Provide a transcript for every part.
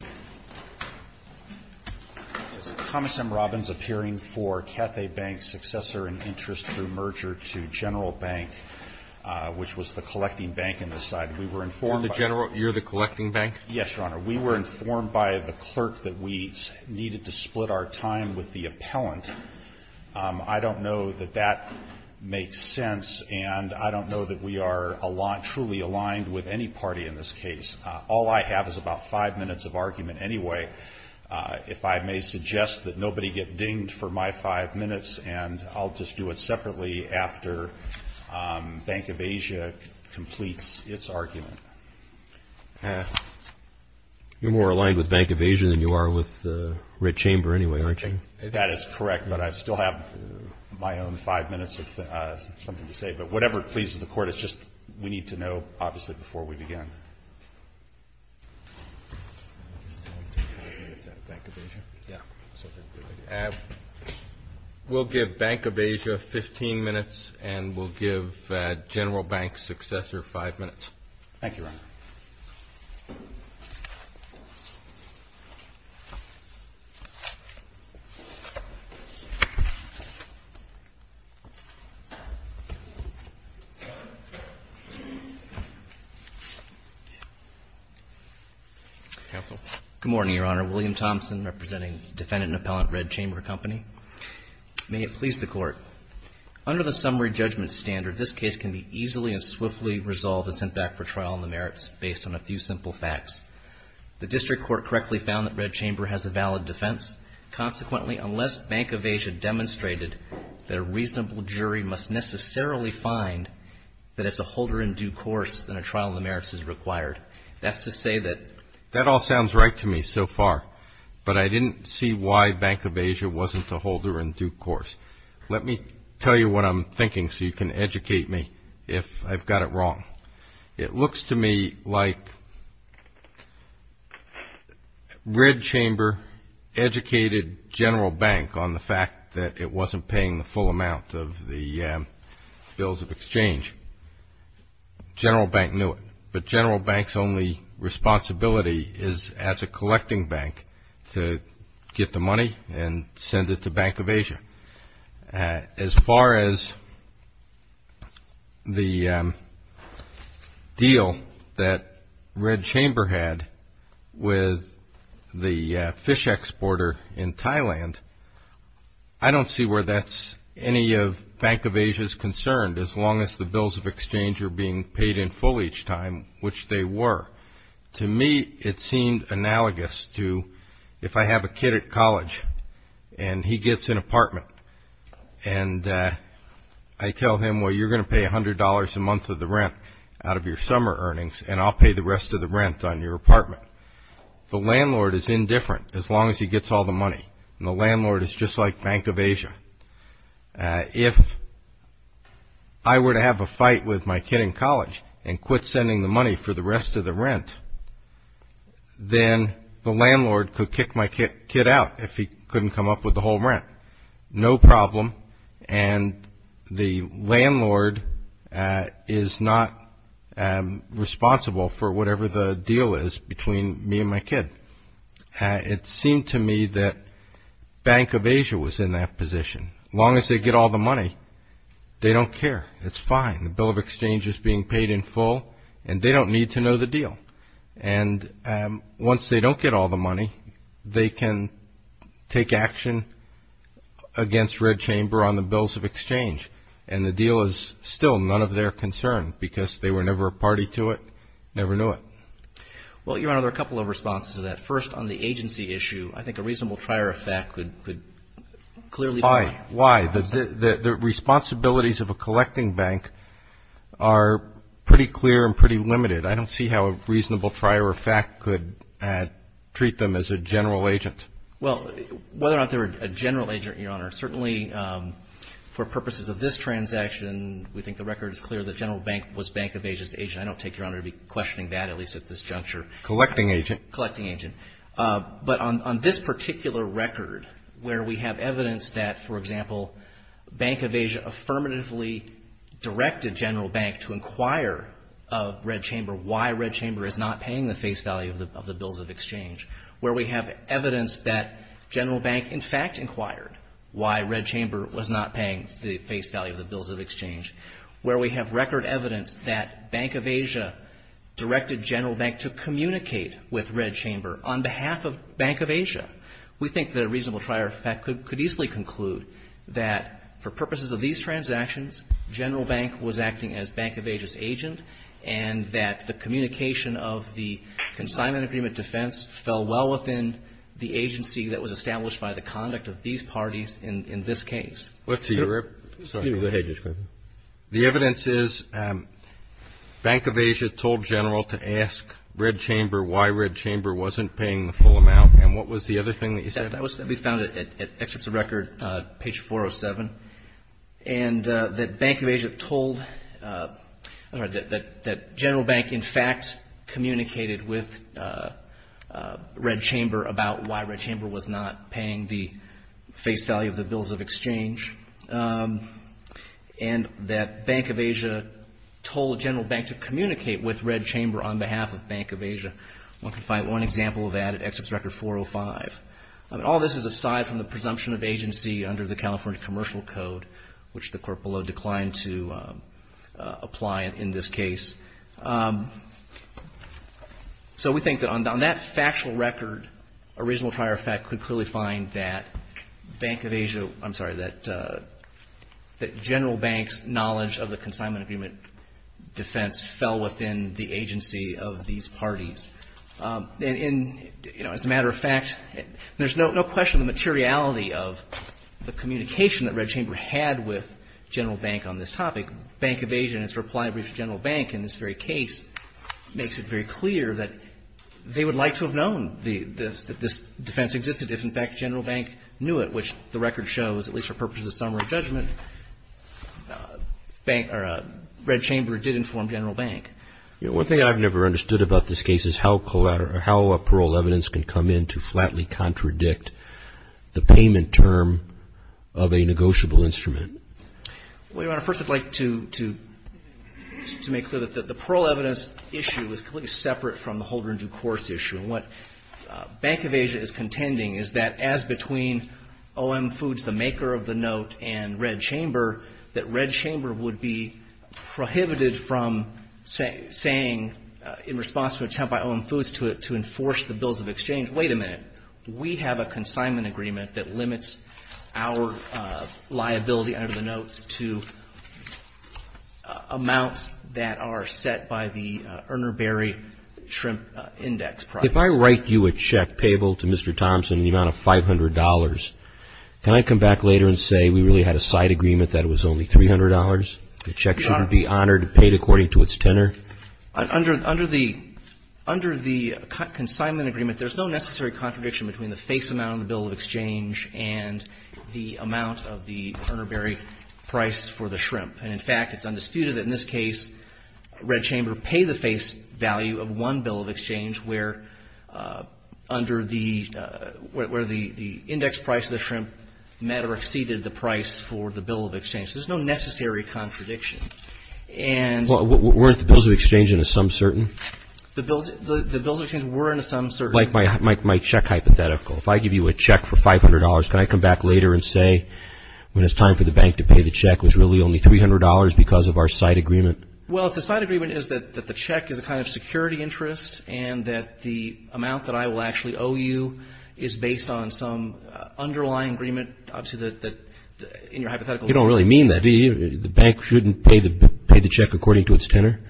Is Thomas M. Robbins appearing for Cathay Bank's Successor in Interest through Merger to General Bank, which was the collecting bank in this side? We were informed by the clerk that we needed to split our time with the appellant. I don't know that that makes sense, and I don't know that we are truly aligned with any party in this case. All I have is about five minutes of argument anyway. If I may suggest that nobody get dinged for my five minutes, and I'll just do it separately after Bank of Asia completes its argument. You're more aligned with Bank of Asia than you are with Red Chamber anyway, aren't you? That is correct, but I still have my own five minutes of something to say. But whatever pleases the Court, it's just we need to know, obviously, before we begin. We'll give Bank of Asia 15 minutes, and we'll give General Bank's Successor five minutes. Thank you, Your Honor. Counsel. Good morning, Your Honor. William Thompson representing Defendant Appellant, Red Chamber Company. May it please the Court. Under the summary judgment standard, this case can be easily and swiftly resolved and sent back for trial on the merits based on a few simple facts. The district court correctly found that Red Chamber has a valid defense. Consequently, unless Bank of Asia demonstrated that a reasonable jury must necessarily find that it's a holder in due course, then a trial on the merits is required. That's to say that... That all sounds right to me so far, but I didn't see why Bank of Asia wasn't a holder in due course. Let me tell you what I'm thinking so you can educate me if I've got it wrong. It looks to me like Red Chamber educated General Bank on the fact that it wasn't paying the full amount of the bills of exchange. General Bank knew it. But General Bank's only responsibility is as a collecting bank to get the money and send it to Bank of Asia. As far as the deal that Red Chamber had with the fish exporter in Thailand, I don't see where that's any of Bank of Asia's concern as long as the bills of exchange are being paid in full each time, which they were. To me, it seemed analogous to if I have a kid at college and he gets an apartment, and I tell him, well, you're going to pay $100 a month of the rent out of your summer earnings, and I'll pay the rest of the rent on your apartment. The landlord is indifferent as long as he gets all the money, and the landlord is just like Bank of Asia. If I were to have a fight with my kid in college and quit sending the money for the rest of the rent, then the landlord could kick my kid out if he couldn't come up with the whole rent. No problem, and the landlord is not responsible for whatever the deal is between me and my kid. It seemed to me that Bank of Asia was in that position. As long as they get all the money, they don't care. It's fine. The bill of exchange is being paid in full, and they don't need to know the deal. And once they don't get all the money, they can take action against Red Chamber on the bills of exchange, and the deal is still none of their concern because they were never a party to it, never knew it. Well, Your Honor, there are a couple of responses to that. First, on the agency issue, I think a reasonable prior effect could clearly be. Why? The responsibilities of a collecting bank are pretty clear and pretty limited. I don't see how a reasonable prior effect could treat them as a general agent. Well, whether or not they're a general agent, Your Honor, certainly for purposes of this transaction, we think the record is clear that General Bank was Bank of Asia's agent. I don't take Your Honor to be questioning that, at least at this juncture. Collecting agent. Collecting agent. But on this particular record, where we have evidence that, for example, Bank of Asia affirmatively directed General Bank to inquire of Red Chamber why Red Chamber is not paying the face value of the bills of exchange, where we have evidence that General Bank, in fact, inquired why Red Chamber was not paying the face value of the bills of exchange, where we have record evidence that Bank of Asia directed General Bank to communicate with Red Chamber on behalf of Bank of Asia, we think that a reasonable prior effect could easily conclude that for purposes of these transactions, General Bank was acting as Bank of Asia's agent and that the communication of the consignment agreement defense fell well within the agency that was established by the conduct of these parties in this case. Let's see. Excuse me. Go ahead, Judge. The evidence is Bank of Asia told General to ask Red Chamber why Red Chamber wasn't paying the full amount, and what was the other thing that you said? That was found at excerpts of record, page 407, and that Bank of Asia told, I'm sorry, that General Bank, in fact, communicated with Red Chamber about why Red Chamber was not paying the face value of the bills of exchange, and that Bank of Asia told General Bank to communicate with Red Chamber on behalf of Bank of Asia. One can find one example of that at excerpts of record 405. All this is aside from the presumption of agency under the California Commercial Code, which the court below declined to apply in this case. So we think that on that factual record, a reasonable prior effect could clearly find that Bank of Asia, I'm sorry, that General Bank's knowledge of the consignment agreement defense fell within the agency of these parties. As a matter of fact, there's no question the materiality of the communication that Red Chamber had with General Bank on this topic. Bank of Asia, in its reply brief to General Bank in this very case, makes it very clear that they would like to have known that this defense existed. If, in fact, General Bank knew it, which the record shows, at least for purposes of summary judgment, Red Chamber did inform General Bank. One thing I've never understood about this case is how a parole evidence can come in to flatly contradict the payment term of a negotiable instrument. Well, Your Honor, first I'd like to make clear that the parole evidence issue is completely separate from the holder-in-due-course issue, and what Bank of Asia is contending is that as between O.M. Foods, the maker of the note, and Red Chamber, that Red Chamber would be prohibited from saying in response to an attempt by O.M. Foods to enforce the bills of exchange. Wait a minute. We have a consignment agreement that limits our liability under the notes to amounts that are set by the Erner-Berry Shrimp Index Project. If I write you a check payable to Mr. Thompson in the amount of $500, can I come back later and say we really had a side agreement that it was only $300? The check shouldn't be honored, paid according to its tenor? Under the consignment agreement, there's no necessary contradiction between the face amount of the bill of exchange and the amount of the Erner-Berry price for the shrimp. And, in fact, it's undisputed that in this case Red Chamber paid the face value of one bill of exchange, where the index price of the shrimp exceeded the price for the bill of exchange. There's no necessary contradiction. Like my check hypothetical, if I give you a check for $500, can I come back later and say when it's time for the bank to pay the check, it was really only $300 because of our side agreement? Can I come back later and say that the amount that I will actually owe you is based on some underlying agreement? You don't really mean that, do you? The bank shouldn't pay the check according to its tenor?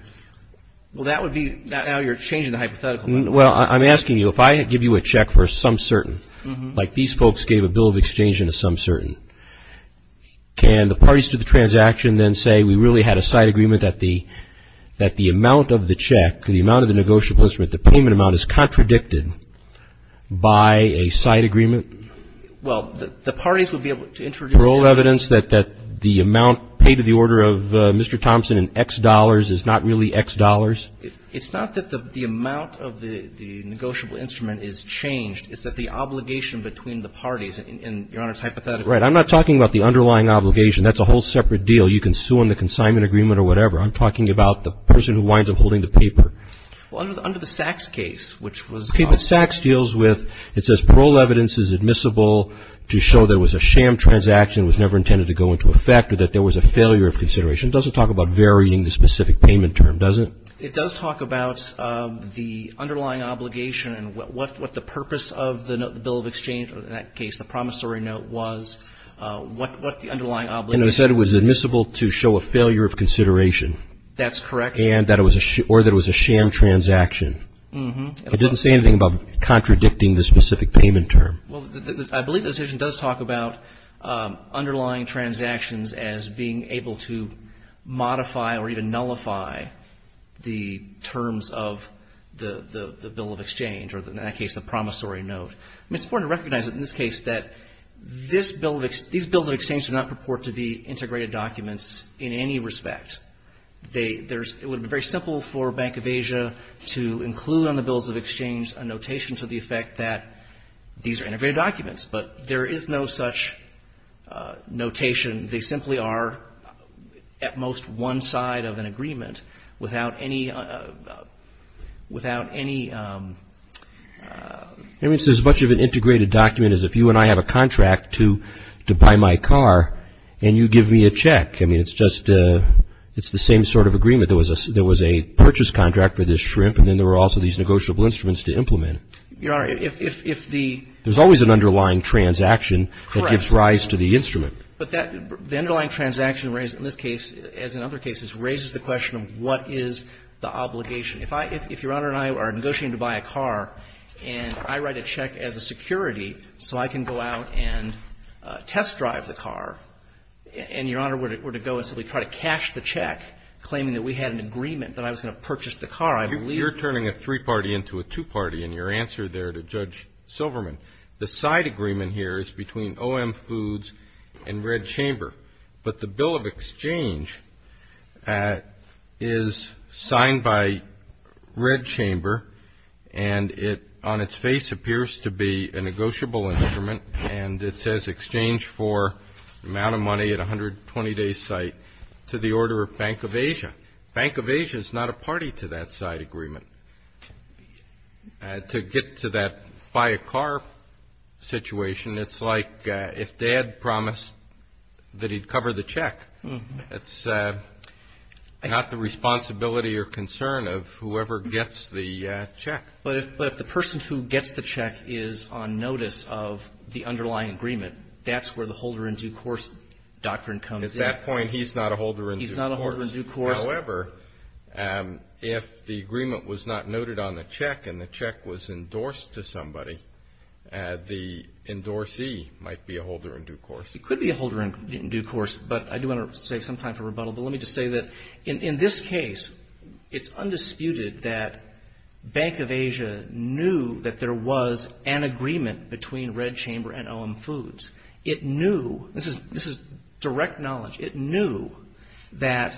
Well, that would be, now you're changing the hypothetical. Well, I'm asking you, if I give you a check for some certain, like these folks gave a bill of exchange into some certain, can the parties to the transaction then say we really had a side agreement that the amount of the check, the amount of the negotiable instrument, the payment amount is contradicted by a side agreement? Well, the parties would be able to introduce evidence. Parole evidence that the amount paid to the order of Mr. Thompson in X dollars is not really X dollars? It's not that the amount of the negotiable instrument is changed. It's that the obligation between the parties in Your Honor's hypothetical. Is that right? I'm not talking about the underlying obligation. That's a whole separate deal. You can sue on the consignment agreement or whatever. I'm talking about the person who winds up holding the paper. Well, under the Sachs case, which was... Okay, but Sachs deals with, it says parole evidence is admissible to show there was a sham transaction that was never intended to go into effect or that there was a failure of consideration. It doesn't talk about varying the specific payment term, does it? It does talk about the underlying obligation and what the purpose of the bill of exchange, or in that case the promissory note, was, what the underlying obligation... And it said it was admissible to show a failure of consideration. That's correct. Or that it was a sham transaction. It doesn't say anything about contradicting the specific payment term. Well, I believe the decision does talk about underlying transactions as being able to modify or even nullify the terms of the bill of exchange, or in that case the promissory note. I mean, it's important to recognize in this case that this bill of ex... these bills of exchange do not purport to be integrated documents in any respect. They... There's... It would be very simple for Bank of Asia to include on the bills of exchange a notation to the effect that these are integrated documents. But there is no such notation. They simply are at most one side of an agreement without any, without any... So much of an integrated document is if you and I have a contract to buy my car and you give me a check. I mean, it's just, it's the same sort of agreement. There was a purchase contract for this shrimp and then there were also these negotiable instruments to implement. Your Honor, if the... There's always an underlying transaction. Correct. That gives rise to the instrument. But the underlying transaction in this case, as in other cases, raises the question of what is the obligation. If I, if Your Honor and I are negotiating to buy a car and I write a check as a security so I can go out and test drive the car, and Your Honor were to go and simply try to cash the check, claiming that we had an agreement that I was going to purchase the car, I believe... You're turning a three-party into a two-party in your answer there to Judge Silverman. The side agreement here is between OM Foods and Red Chamber. But the bill of exchange is signed by Red Chamber and it, on its face, appears to be a negotiable instrument. And it says exchange for the amount of money at a 120-day site to the order of Bank of Asia. Bank of Asia is not a party to that side agreement. To get to that buy a car situation, it's like if Dad promised that he'd cover the check. It's not the responsibility or concern of whoever gets the check. But if the person who gets the check is on notice of the underlying agreement, that's where the holder-in-due-course doctrine comes in. At that point, he's not a holder-in-due-course. He's not a holder-in-due-course. However, if the agreement was not noted on the check and the check was endorsed to somebody, the endorsee might be a holder-in-due-course. He could be a holder-in-due-course. But I do want to save some time for rebuttal. But let me just say that in this case, it's undisputed that Bank of Asia knew that there was an agreement between Red Chamber and OM Foods. It knew... This is direct knowledge. It knew that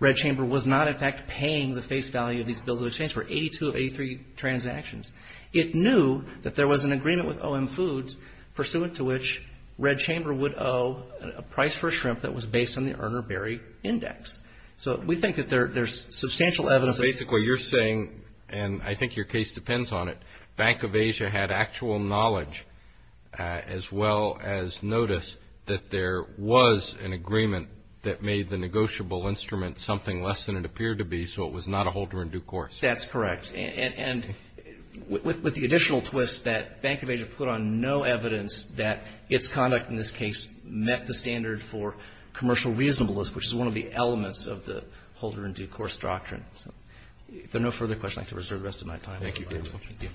Red Chamber was not, in fact, paying the face value of these bills of exchange for 82 of 83 transactions. It knew that there was an agreement with OM Foods, pursuant to which Red Chamber would owe a price for a shrimp that was based on the Erner-Berry Index. So we think that there's substantial evidence... So basically you're saying, and I think your case depends on it, that Bank of Asia had actual knowledge as well as notice that there was an agreement that made the negotiable instrument something less than it appeared to be, so it was not a holder-in-due-course. That's correct. And with the additional twist that Bank of Asia put on no evidence that its conduct in this case met the standard for commercial reasonableness, which is one of the elements of the holder-in-due-course doctrine. If there are no further questions, I'd like to reserve the rest of my time. Thank you very much. Thank you.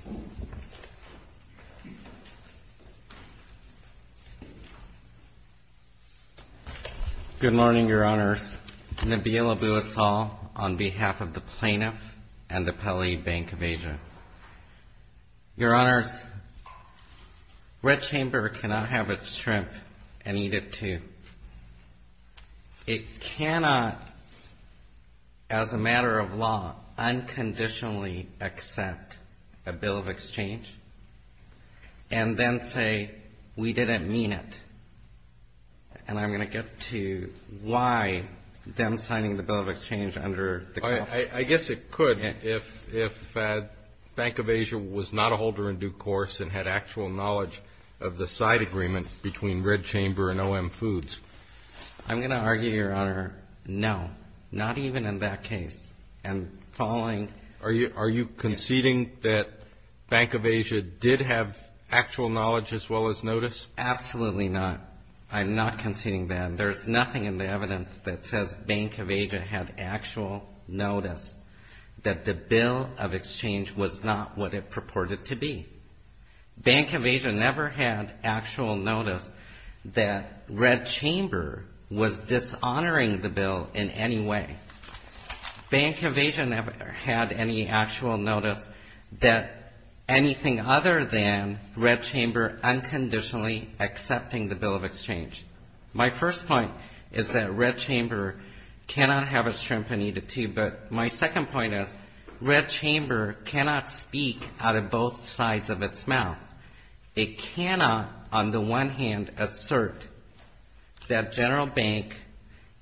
Good morning, Your Honors. Nabil Abu-Assal on behalf of the Plaintiff and the Pelley Bank of Asia. Your Honors, Red Chamber cannot have its shrimp and eat it too. It cannot, as a matter of law, unconditionally accept a bill of exchange and then say we didn't mean it. And I'm going to get to why them signing the bill of exchange under the... I guess it could if Bank of Asia was not a holder-in-due-course and had actual knowledge of the side agreement between Red Chamber and OM Foods. I'm going to argue, Your Honor, no, not even in that case. And following... Are you conceding that Bank of Asia did have actual knowledge as well as notice? Absolutely not. I'm not conceding that. There's nothing in the evidence that says Bank of Asia had actual notice that the bill of exchange was not what it purported to be. Bank of Asia never had actual notice that Red Chamber was dishonoring the bill in any way. Bank of Asia never had any actual notice that anything other than Red Chamber unconditionally accepting the bill of exchange. My first point is that Red Chamber cannot have its shrimp and eat it too. But my second point is Red Chamber cannot speak out of both sides of its mouth. It cannot, on the one hand, assert that General Bank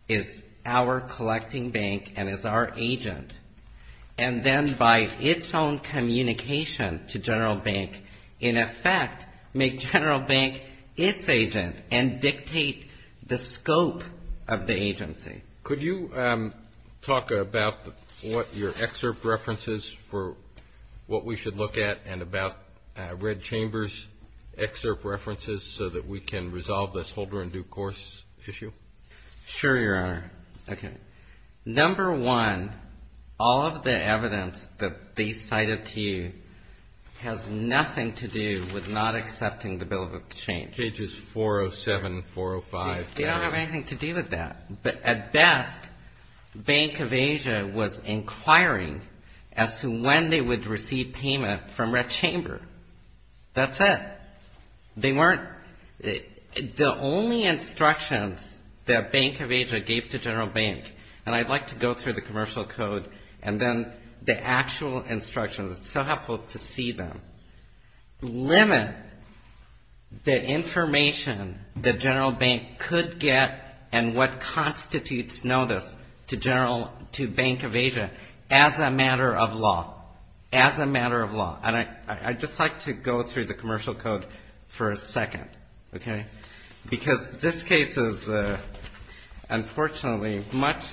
is our collecting bank and is our agent, and then by its own communication to General Bank, in effect, make General Bank its agent and dictate the scope of the agency. Could you talk about what your excerpt references for what we should look at and about Red Chamber's excerpt references so that we can resolve this Holder in Due Course issue? Sure, Your Honor. Okay. Number one, all of the evidence that they cited to you has nothing to do with not accepting the bill of exchange. Pages 407, 405. They don't have anything to do with that. But at best, Bank of Asia was inquiring as to when they would receive payment from Red Chamber. That's it. They weren't the only instructions that Bank of Asia gave to General Bank, and I'd like to go through the commercial code and then the actual instructions. It's so helpful to see them. Limit the information that General Bank could get and what constitutes notice to Bank of Asia as a matter of law, as a matter of law. And I'd just like to go through the commercial code for a second, okay, because this case is, unfortunately, much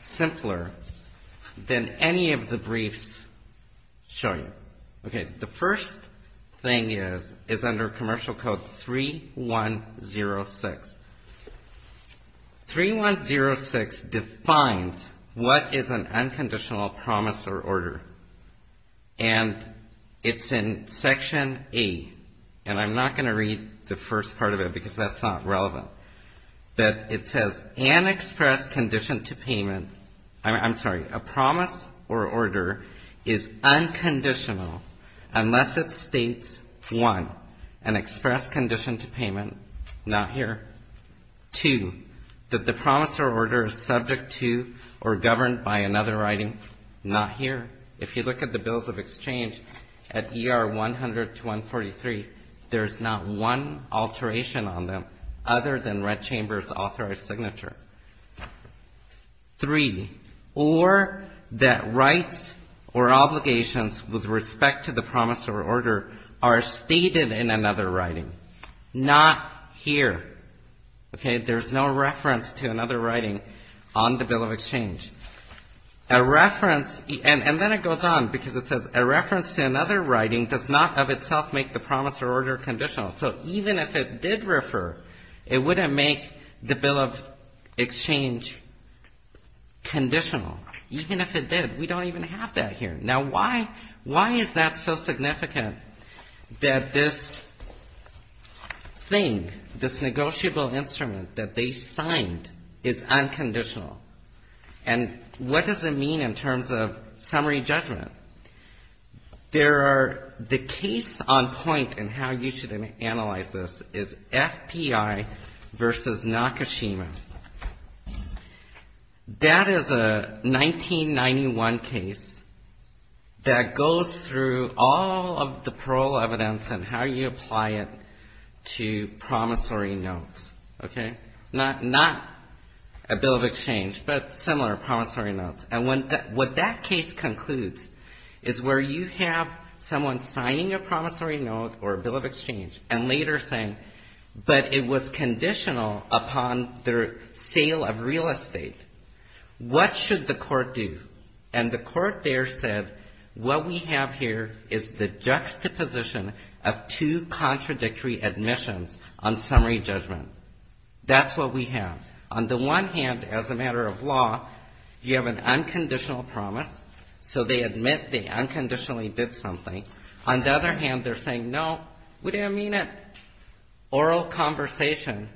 simpler than any of the briefs shown. Okay. The first thing is under Commercial Code 3106. 3106 defines what is an unconditional promise or order, and it's in Section A. And I'm not going to read the first part of it because that's not relevant. But it says an express condition to payment. I'm sorry. A promise or order is unconditional unless it states, one, an express condition to payment. Not here. Two, that the promise or order is subject to or governed by another writing. Not here. If you look at the bills of exchange at ER 100 to 143, there's not one alteration on them other than Red Chamber's authorized signature. Three, or that rights or obligations with respect to the promise or order are stated in another writing. Not here. Okay. There's no reference to another writing on the bill of exchange. A reference, and then it goes on because it says, a reference to another writing does not of itself make the promise or order conditional. So even if it did refer, it wouldn't make the bill of exchange conditional. Even if it did, we don't even have that here. Now, why is that so significant that this thing, this negotiable instrument that they signed is unconditional? And what does it mean in terms of summary judgment? There are the case on point in how you should analyze this is FPI versus Nakashima. That is a 1991 case that goes through all of the parole evidence and how you apply it to promissory notes. Okay? Not a bill of exchange, but similar promissory notes. And what that case concludes is where you have someone signing a promissory note or a bill of exchange and later saying, but it was conditional upon their sale of real estate. What should the court do? And the court there said, what we have here is the juxtaposition of two contradictory admissions on summary judgment. That's what we have. On the one hand, as a matter of law, you have an unconditional promise. So they admit they unconditionally did something. On the other hand, they're saying, no, we didn't mean it. Oral conversation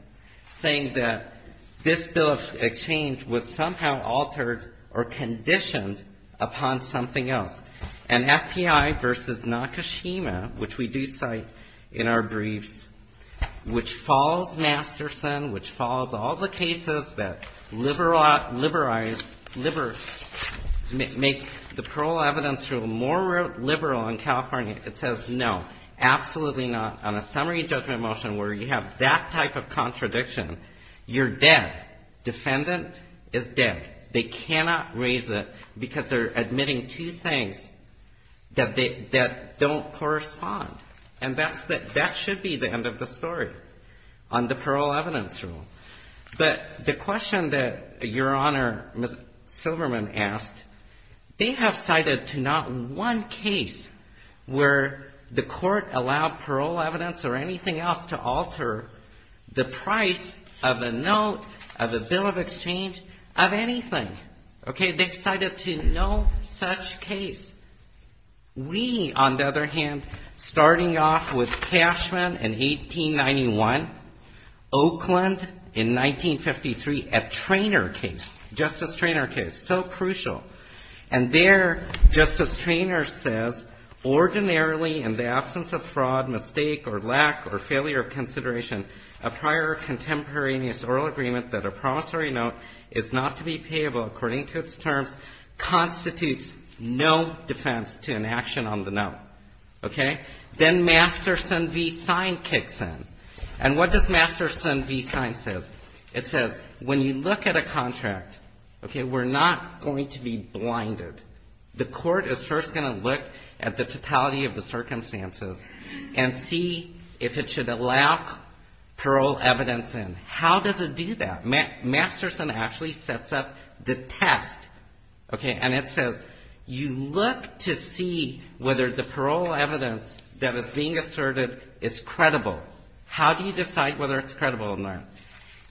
saying that this bill of exchange was somehow altered or conditioned upon something else. And FPI versus Nakashima, which we do cite in our briefs, which falls Masterson, which falls all the cases that liberalize, make the parole evidence rule more liberal in California. It says, no, absolutely not. On a summary judgment motion where you have that type of contradiction, you're dead. Defendant is dead. They cannot raise it because they're admitting two things that don't correspond. And that should be the end of the story on the parole evidence rule. But the question that Your Honor, Ms. Silverman, asked, they have cited to not one case where the court allowed parole evidence or anything else to alter the price of a note, of a bill of exchange, of anything. Okay? They've cited to no such case. We, on the other hand, starting off with Cashman in 1891, Oakland in 1953, a Traynor case, Justice Traynor case, so crucial. And there, Justice Traynor says, ordinarily in the absence of fraud, mistake or lack or failure of consideration, a prior contemporaneous oral agreement that a promissory note is not to be payable according to its terms constitutes no defense to an action on the note. Okay? Then Masterson v. Sign kicks in. And what does Masterson v. Sign say? It says, when you look at a contract, okay, we're not going to be blinded. The court is first going to look at the totality of the circumstances and see if it should allow parole evidence in. How does it do that? Masterson actually sets up the test. Okay? And it says, you look to see whether the parole evidence that is being asserted is credible. How do you decide whether it's credible or not?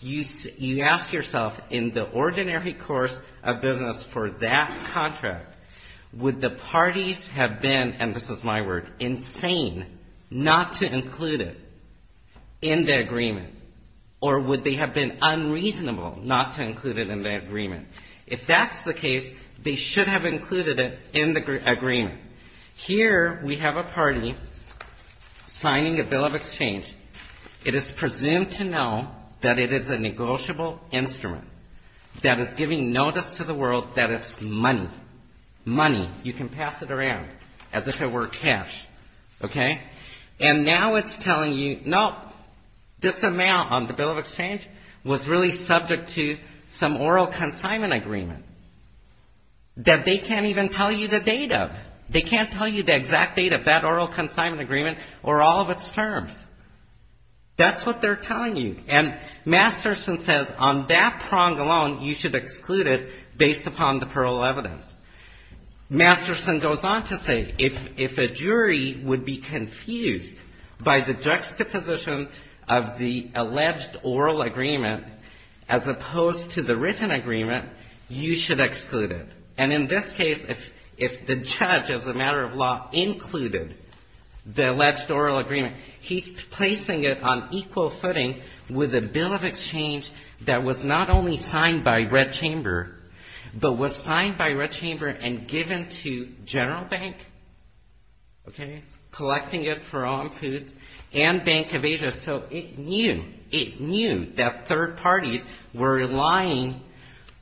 You ask yourself, in the ordinary course of business for that contract, would the parties have been, and this is my word, insane not to include it in the agreement? Or would they have been unreasonable not to include it in the agreement? If that's the case, they should have included it in the agreement. Okay? Here we have a party signing a bill of exchange. It is presumed to know that it is a negotiable instrument that is giving notice to the world that it's money. Money. You can pass it around as if it were cash. Okay? And now it's telling you, no, this amount on the bill of exchange was really subject to some oral consignment agreement that they can't even tell you the date of. They can't tell you the exact date of that oral consignment agreement or all of its terms. That's what they're telling you. And Masterson says, on that prong alone, you should exclude it based upon the parole evidence. Masterson goes on to say, if a jury would be confused by the juxtaposition of the alleged oral agreement, as opposed to the written agreement, you should exclude it. And in this case, if the judge, as a matter of law, included the alleged oral agreement, he's placing it on equal footing with a bill of exchange that was not only signed by Red Chamber, but was signed by Red Chamber and given to General Bank, okay, collecting it for all foods, and Bank of Asia. So it knew, it knew that third parties were relying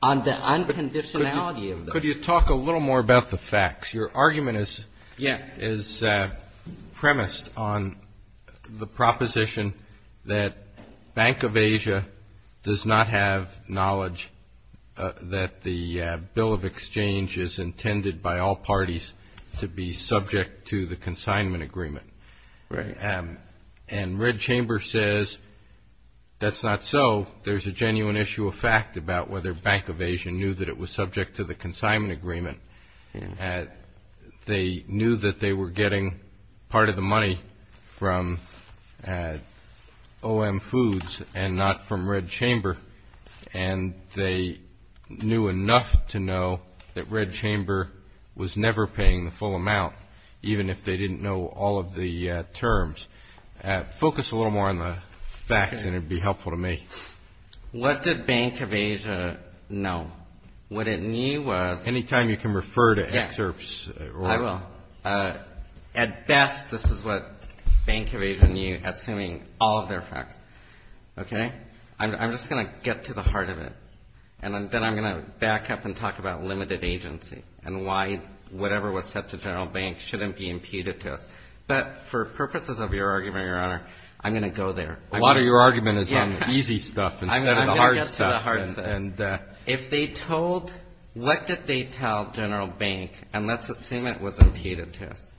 on the unconditionality of this. Could you talk a little more about the facts? Your argument is premised on the proposition that Bank of Asia does not have knowledge that the bill of exchange is intended by all parties to be subject to the consignment agreement. Right. And Red Chamber says, that's not so. There's a genuine issue of fact about whether Bank of Asia knew that it was subject to the consignment agreement. They knew that they were getting part of the money from OM Foods and not from Red Chamber, and they knew enough to know that Red Chamber was never paying the full amount, even if they didn't know all of the terms. Focus a little more on the facts, and it would be helpful to me. What did Bank of Asia know? What it knew was. Any time you can refer to excerpts. I will. At best, this is what Bank of Asia knew, assuming all of their facts, okay? I'm just going to get to the heart of it, and then I'm going to back up and talk about limited agency and why whatever was said to General Bank shouldn't be impeded to us. But for purposes of your argument, Your Honor, I'm going to go there. A lot of your argument is on the easy stuff instead of the hard stuff. I'm going to get to the hard stuff. If they told, what did they tell General Bank, and let's assume it was impeded to us,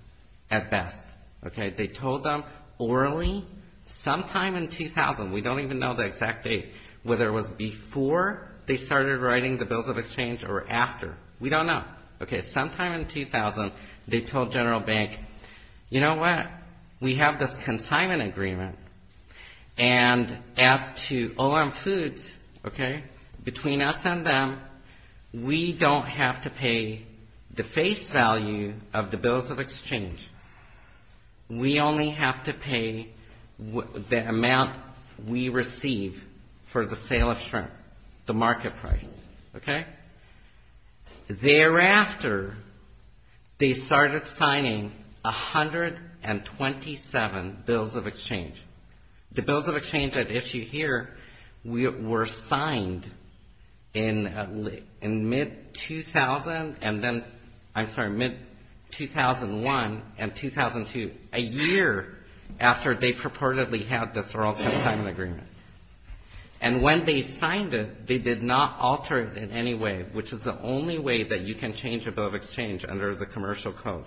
at best, okay? They told them orally sometime in 2000, we don't even know the exact date, whether it was before they started writing the bills of exchange or after. We don't know. Okay, sometime in 2000, they told General Bank, you know what? We have this consignment agreement, and as to all our foods, okay, between us and them, we don't have to pay the face value of the bills of exchange. We only have to pay the amount we receive for the sale of shrimp, the market price, okay? Thereafter, they started signing 127 bills of exchange. The bills of exchange at issue here were signed in mid-2000 and then, I'm sorry, mid-2001 and 2002, a year after they purportedly had this oral consignment agreement. And when they signed it, they did not alter it in any way, which is the only way that you can change a bill of exchange under the commercial code.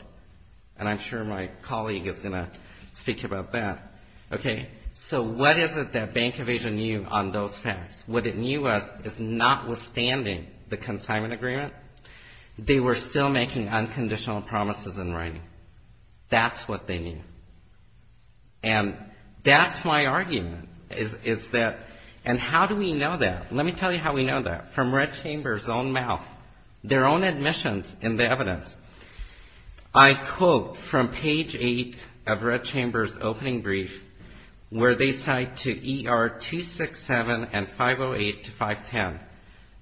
And I'm sure my colleague is going to speak to you about that, okay? So what is it that Bank of Asia knew on those facts? What it knew was, is notwithstanding the consignment agreement, they were still making unconditional promises in writing. That's what they knew. And that's my argument, is that, and how do we know that? Let me tell you how we know that. From Red Chamber's own mouth, their own admissions in the evidence. I quote from page 8 of Red Chamber's opening brief, where they cite to ER 267 and 508 to 510.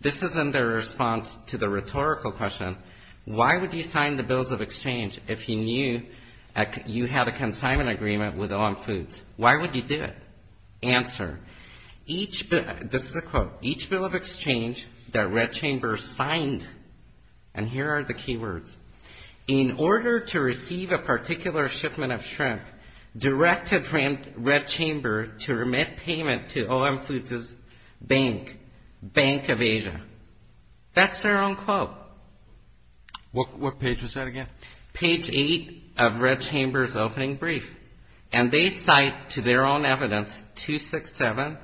This is in their response to the rhetorical question, why would you sign the bills of exchange if you knew you had a consignment agreement with OM Foods? Why would you do it? Answer. This is a quote. Each bill of exchange that Red Chamber signed, and here are the key words, in order to receive a particular shipment of shrimp, directed Red Chamber to remit payment to OM Foods' bank, Bank of Asia. That's their own quote. What page was that again? Page 8 of Red Chamber's opening brief. And they cite to their own evidence 267,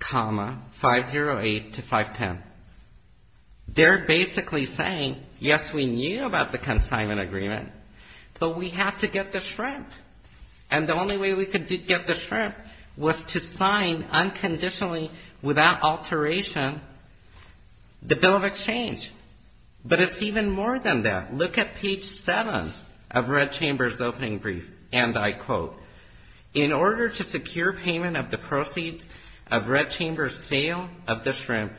508 to 510. They're basically saying, yes, we knew about the consignment agreement, but we had to get the shrimp. And the only way we could get the shrimp was to sign unconditionally, without alteration, the bill of exchange. But it's even more than that. Look at page 7 of Red Chamber's opening brief, and I quote, in order to secure payment of the proceeds of Red Chamber's sale of the shrimp,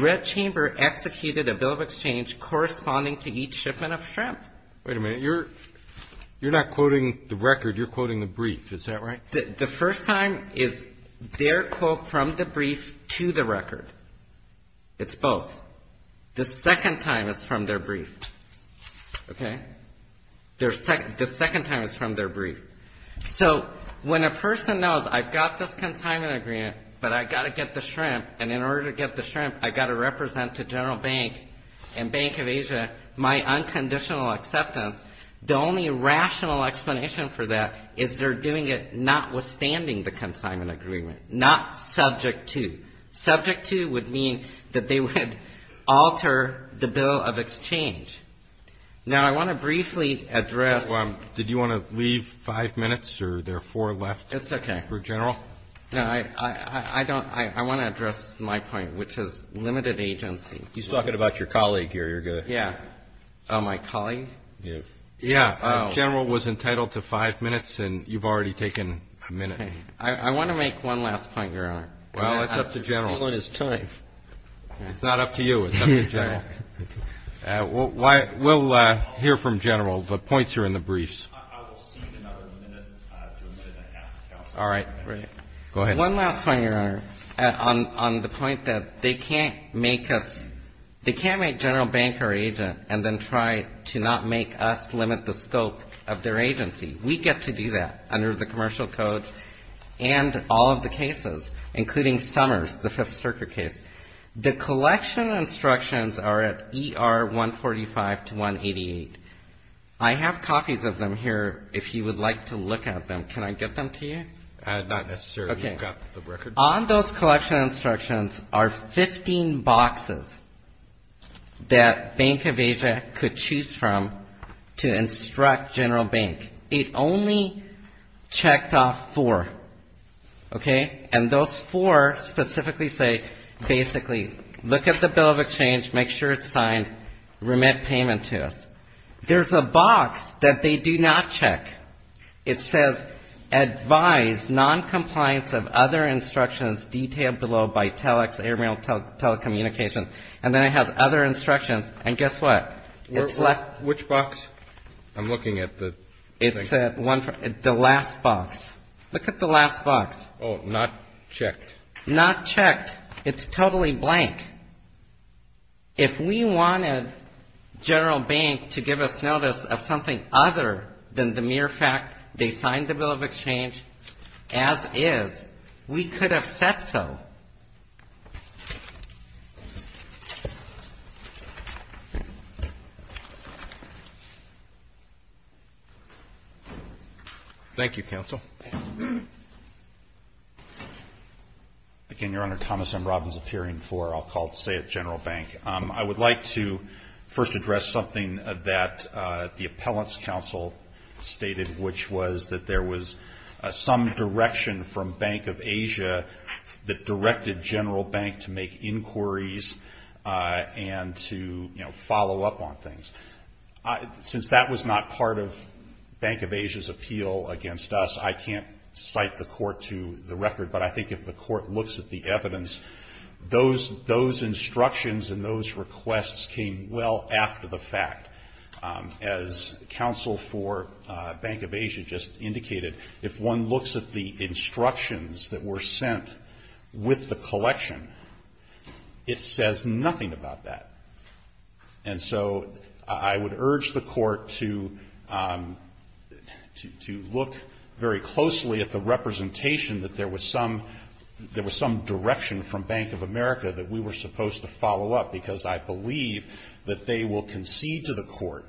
Red Chamber executed a bill of exchange corresponding to each shipment of shrimp. Wait a minute. You're not quoting the record. You're quoting the brief. Is that right? The first time is their quote from the brief to the record. It's both. The second time is from their brief. Okay? The second time is from their brief. So when a person knows, I've got this consignment agreement, but I've got to get the shrimp, and in order to get the shrimp, I've got to represent to General Bank and Bank of Asia my unconditional acceptance, the only rational explanation for that is they're doing it notwithstanding the consignment agreement, not subject to. Subject to would mean that they would alter the bill of exchange. Now, I want to briefly address. Did you want to leave five minutes, or are there four left? It's okay. For General? No, I don't. I want to address my point, which is limited agency. You're talking about your colleague here. You're going to. Yeah. Oh, my colleague? Yeah. I want to make one last point, Your Honor. Well, it's up to General. I'm spending all this time. It's not up to you. It's up to General. We'll hear from General. The points are in the briefs. I will cede another minute to a minute and a half. All right. Great. Go ahead. One last point, Your Honor, on the point that they can't make us, they can't make General Bank or Asia and then try to not make us limit the scope of their agency. We get to do that under the commercial code and all of the cases, including Summers, the Fifth Circuit case. The collection instructions are at ER 145 to 188. I have copies of them here if you would like to look at them. Can I get them to you? Not necessarily. You've got the record. On those collection instructions are 15 boxes that Bank of Asia could choose from to instruct General Bank. It only checked off four, okay? And those four specifically say, basically, look at the bill of exchange, make sure it's signed, remit payment to us. There's a box that they do not check. It says, advise noncompliance of other instructions detailed below by telex, aerial telecommunications. And then it has other instructions. And guess what? It's left. Which box? I'm looking at the thing. It's the last box. Look at the last box. Oh, not checked. Not checked. It's totally blank. If we wanted General Bank to give us notice of something other than the mere fact they signed the bill of exchange, as is, we could have said so. Thank you, counsel. Again, Your Honor, Thomas M. Robbins, appearing for, I'll call to say, at General Bank. I would like to first address something that the appellant's counsel stated, which was that there was some direction from Bank of Asia that directed General Bank to make inquiries and to, you know, follow up on things. Since that was not part of Bank of Asia's appeal against us, I can't cite the court to the record, but I think if the court looks at the evidence, those instructions and those requests came well after the fact. As counsel for Bank of Asia just indicated, if one looks at the instructions that were sent with the collection, it says nothing about that. And so I would urge the court to look very closely at the representation that there was some direction from Bank of America that we were supposed to follow up, because I believe that they will concede to the court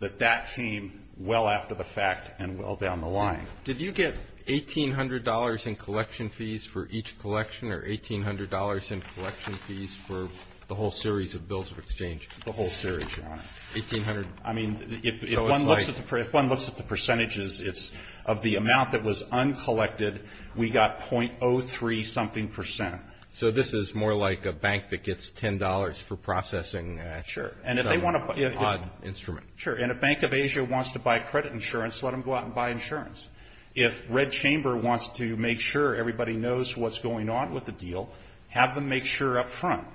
that that came well after the fact and well down the line. Did you get $1,800 in collection fees for each collection or $1,800 in collection fees for the whole series of bills of exchange? The whole series, Your Honor. $1,800. I mean, if one looks at the percentages, it's of the amount that was uncollected, we got .03-something percent. So this is more like a bank that gets $10 for processing some odd instrument. Sure. And if Bank of Asia wants to buy credit insurance, let them go out and buy insurance. If Red Chamber wants to make sure everybody knows what's going on with the deal, have them make sure up front.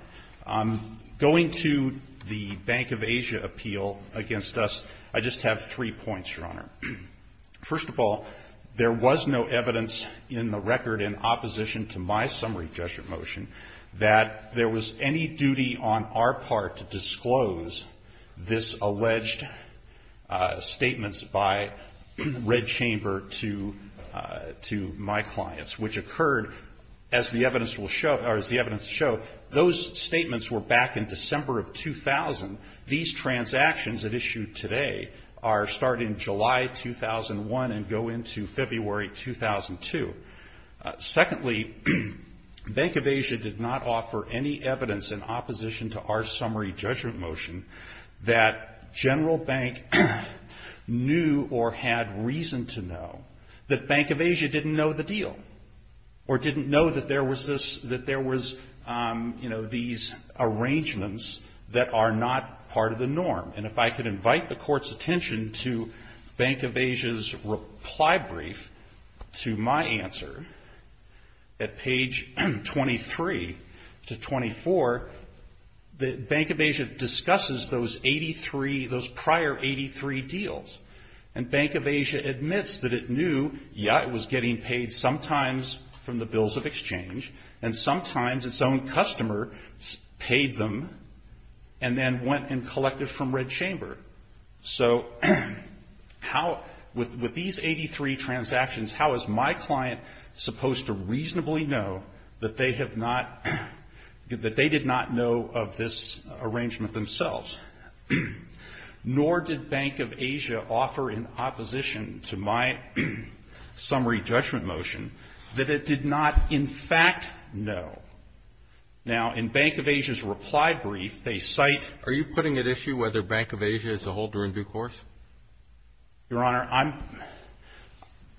Going to the Bank of Asia appeal against us, I just have three points, Your Honor. First of all, there was no evidence in the record in opposition to my summary judgment motion that there was any duty on our part to disclose this alleged statements by Red Chamber to my clients, which occurred, as the evidence will show, or as the evidence will show, those statements were back in December of 2000. These transactions that issued today are starting July 2001 and go into February 2002. Secondly, Bank of Asia did not offer any evidence in opposition to our summary judgment motion that General Bank knew or had reason to know that Bank of Asia didn't know the deal or didn't know that there was this, that there was, you know, these arrangements that are not part of the norm. And if I could invite the Court's attention to Bank of Asia's reply brief to my answer at page 23 to 24, that Bank of Asia discusses those 83, those prior 83 deals. And Bank of Asia admits that it knew, yeah, it was getting paid sometimes from the bills of exchange, and sometimes its own customer paid them and then went and collected from Red Chamber. So how, with these 83 transactions, how is my client supposed to reasonably know that they have not, that they did not know of this arrangement themselves? Nor did Bank of Asia offer in opposition to my summary judgment motion that it did not, in fact, know. Now, in Bank of Asia's reply brief, they cite. Are you putting at issue whether Bank of Asia is a holder in due course? Your Honor, I'm,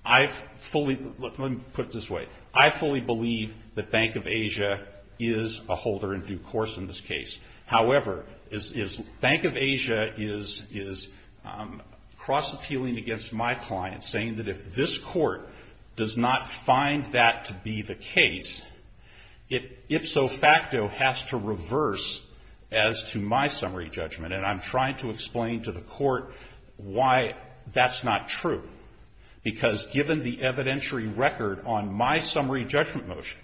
I've fully, let me put it this way. I fully believe that Bank of Asia is a holder in due course in this case. However, is, is Bank of Asia is, is cross-appealing against my client, saying that if this Court does not find that to be the case, it ipso facto has to reverse as to my summary judgment. And I'm trying to explain to the Court why that's not true. Because given the evidentiary record on my summary judgment motion,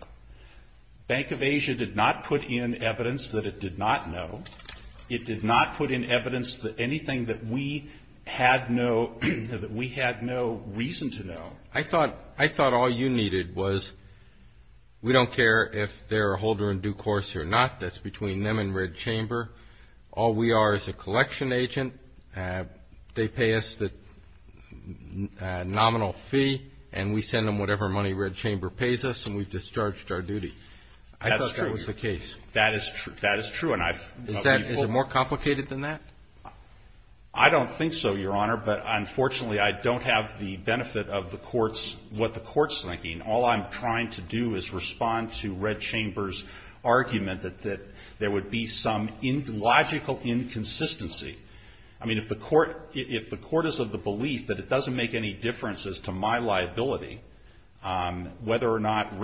Bank of Asia did not put in evidence that it did not know. It did not put in evidence that anything that we had no, that we had no reason to know. I thought, I thought all you needed was, we don't care if they're a holder in due course or not. That's between them and Red Chamber. All we are is a collection agent. They pay us the nominal fee, and we send them whatever money Red Chamber pays us, and we've discharged our duty. That's true. I thought that was the case. That is true. That is true. Is that, is it more complicated than that? I don't think so, Your Honor. But unfortunately, I don't have the benefit of the Court's, what the Court's thinking. All I'm trying to do is respond to Red Chamber's argument that, that there would be some logical inconsistency. I mean, if the Court, if the Court is of the belief that it doesn't make any differences to my liability, whether or not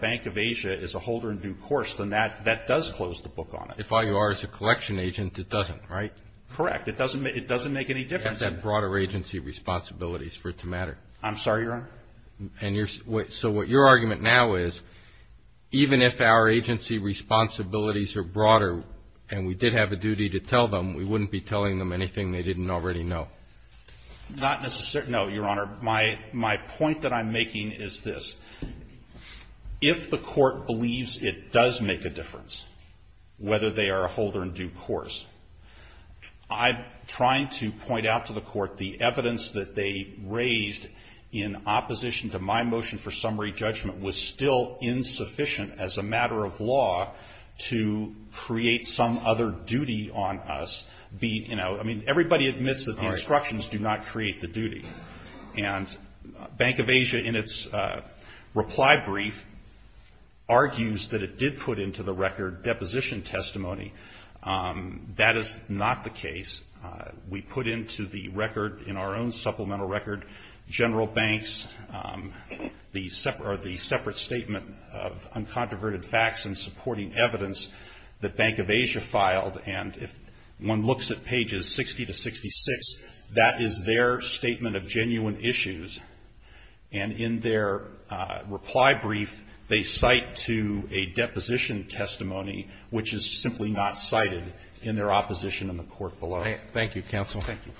Bank of Asia is a holder in due course, then that, that does close the book on it. If all you are is a collection agent, it doesn't, right? Correct. It doesn't make, it doesn't make any difference. You have that broader agency responsibilities for it to matter. I'm sorry, Your Honor? And you're, so what your argument now is, even if our agency responsibilities are broader, and we did have a duty to tell them, we wouldn't be telling them anything they didn't already know. Not necessarily, no, Your Honor. My, my point that I'm making is this. If the Court believes it does make a difference, whether they are a holder in due course, I'm trying to point out to the Court the evidence that they raised in opposition to my motion for summary judgment was still insufficient as a matter of law to create some other duty on us, be, you know, I mean, everybody admits that the instructions do not create the duty. And Bank of Asia, in its reply brief, argues that it did put into the record deposition testimony. That is not the case. We put into the record, in our own supplemental record, General Banks, the separate, or the separate statement of uncontroverted facts and supporting evidence that Bank of Asia filed. And if one looks at pages 60 to 66, that is their statement of genuine issues. And in their reply brief, they cite to a deposition testimony, which is not the case. It's just simply not cited in their opposition in the Court below. Thank you, Counsel. Thank you.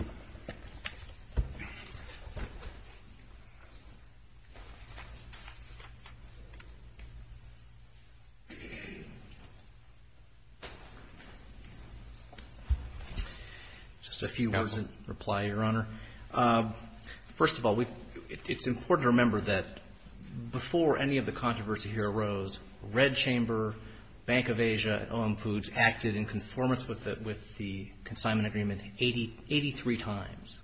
Just a few words in reply, Your Honor. First of all, we, it's important to remember that before any of the controversy here arose, Red Chamber, Bank of Asia, and OM Foods acted in conformance with the consignment agreement 83 times.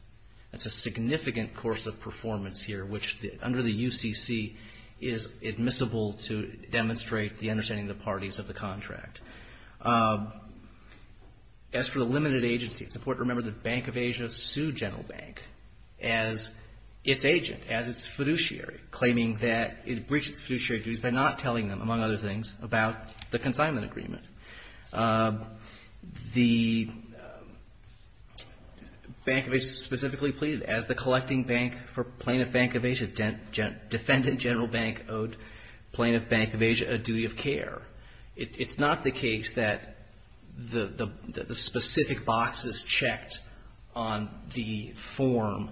That's a significant course of performance here, which under the UCC is admissible to demonstrate the understanding of the parties of the contract. As for the limited agency, it's important to remember that Bank of Asia sued General Bank as its agent, as its fiduciary, claiming that it breached its fiduciary duties by not telling them, among other things, about the consignment agreement. The Bank of Asia specifically pleaded as the collecting bank for Plaintiff Bank of Asia, defendant General Bank owed Plaintiff Bank of Asia a duty of care. It's not the case that the specific boxes checked on the form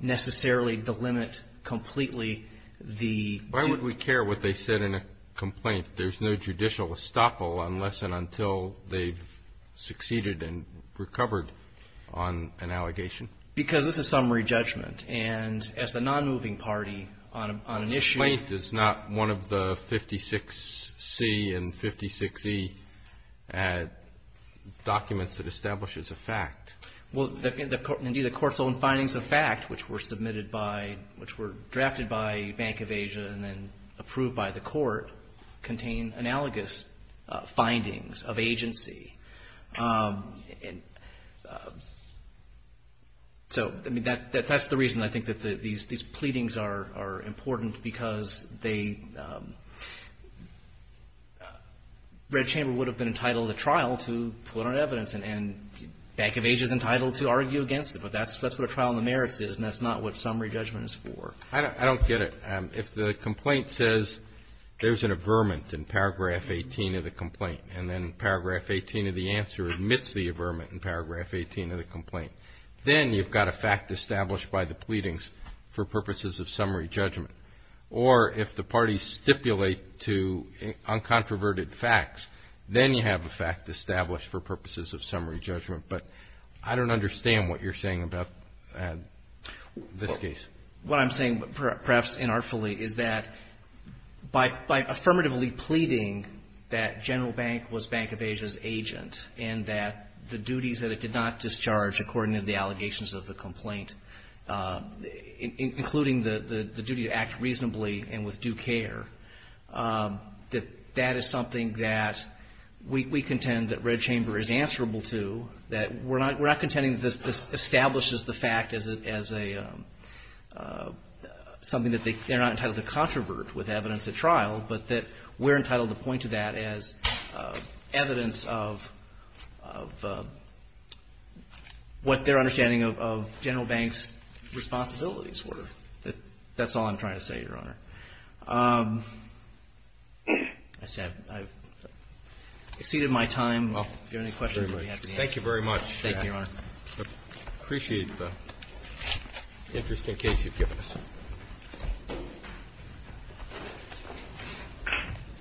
necessarily delimit completely the... Why would we care what they said in a complaint? There's no judicial estoppel unless and until they've succeeded and recovered on an allegation. Because this is summary judgment. And as the nonmoving party on an issue... A complaint is not one of the 56C and 56E documents that establishes a fact. Well, indeed, the court's own findings of fact, which were submitted by, which were drafted by Bank of Asia and then approved by the court, contain analogous findings of agency. So that's the reason I think that these pleadings are important, because they... And Bank of Asia is entitled to argue against it, but that's what a trial on the merits is, and that's not what summary judgment is for. I don't get it. If the complaint says there's an averment in paragraph 18 of the complaint and then paragraph 18 of the answer admits the averment in paragraph 18 of the complaint, then you've got a fact established by the pleadings for purposes of summary judgment. Or if the parties stipulate to uncontroverted facts, then you have a fact established for purposes of summary judgment. But I don't understand what you're saying about this case. What I'm saying, perhaps inartfully, is that by affirmatively pleading that General Bank was Bank of Asia's agent and that the duties that it did not discharge according to the allegations of the complaint, including the duty to act reasonably and with due care, that that is something that we contend that Red Chamber is answerable to, that we're not contending that this establishes the fact as something that they're not entitled to controvert with evidence at trial, but that we're entitled to point to that as evidence of what their understanding of General Bank's responsibilities were. That's all I'm trying to say, Your Honor. I've exceeded my time. If you have any questions, I'll be happy to answer them. Thank you very much. Thank you, Your Honor. I appreciate the interesting case you've given us.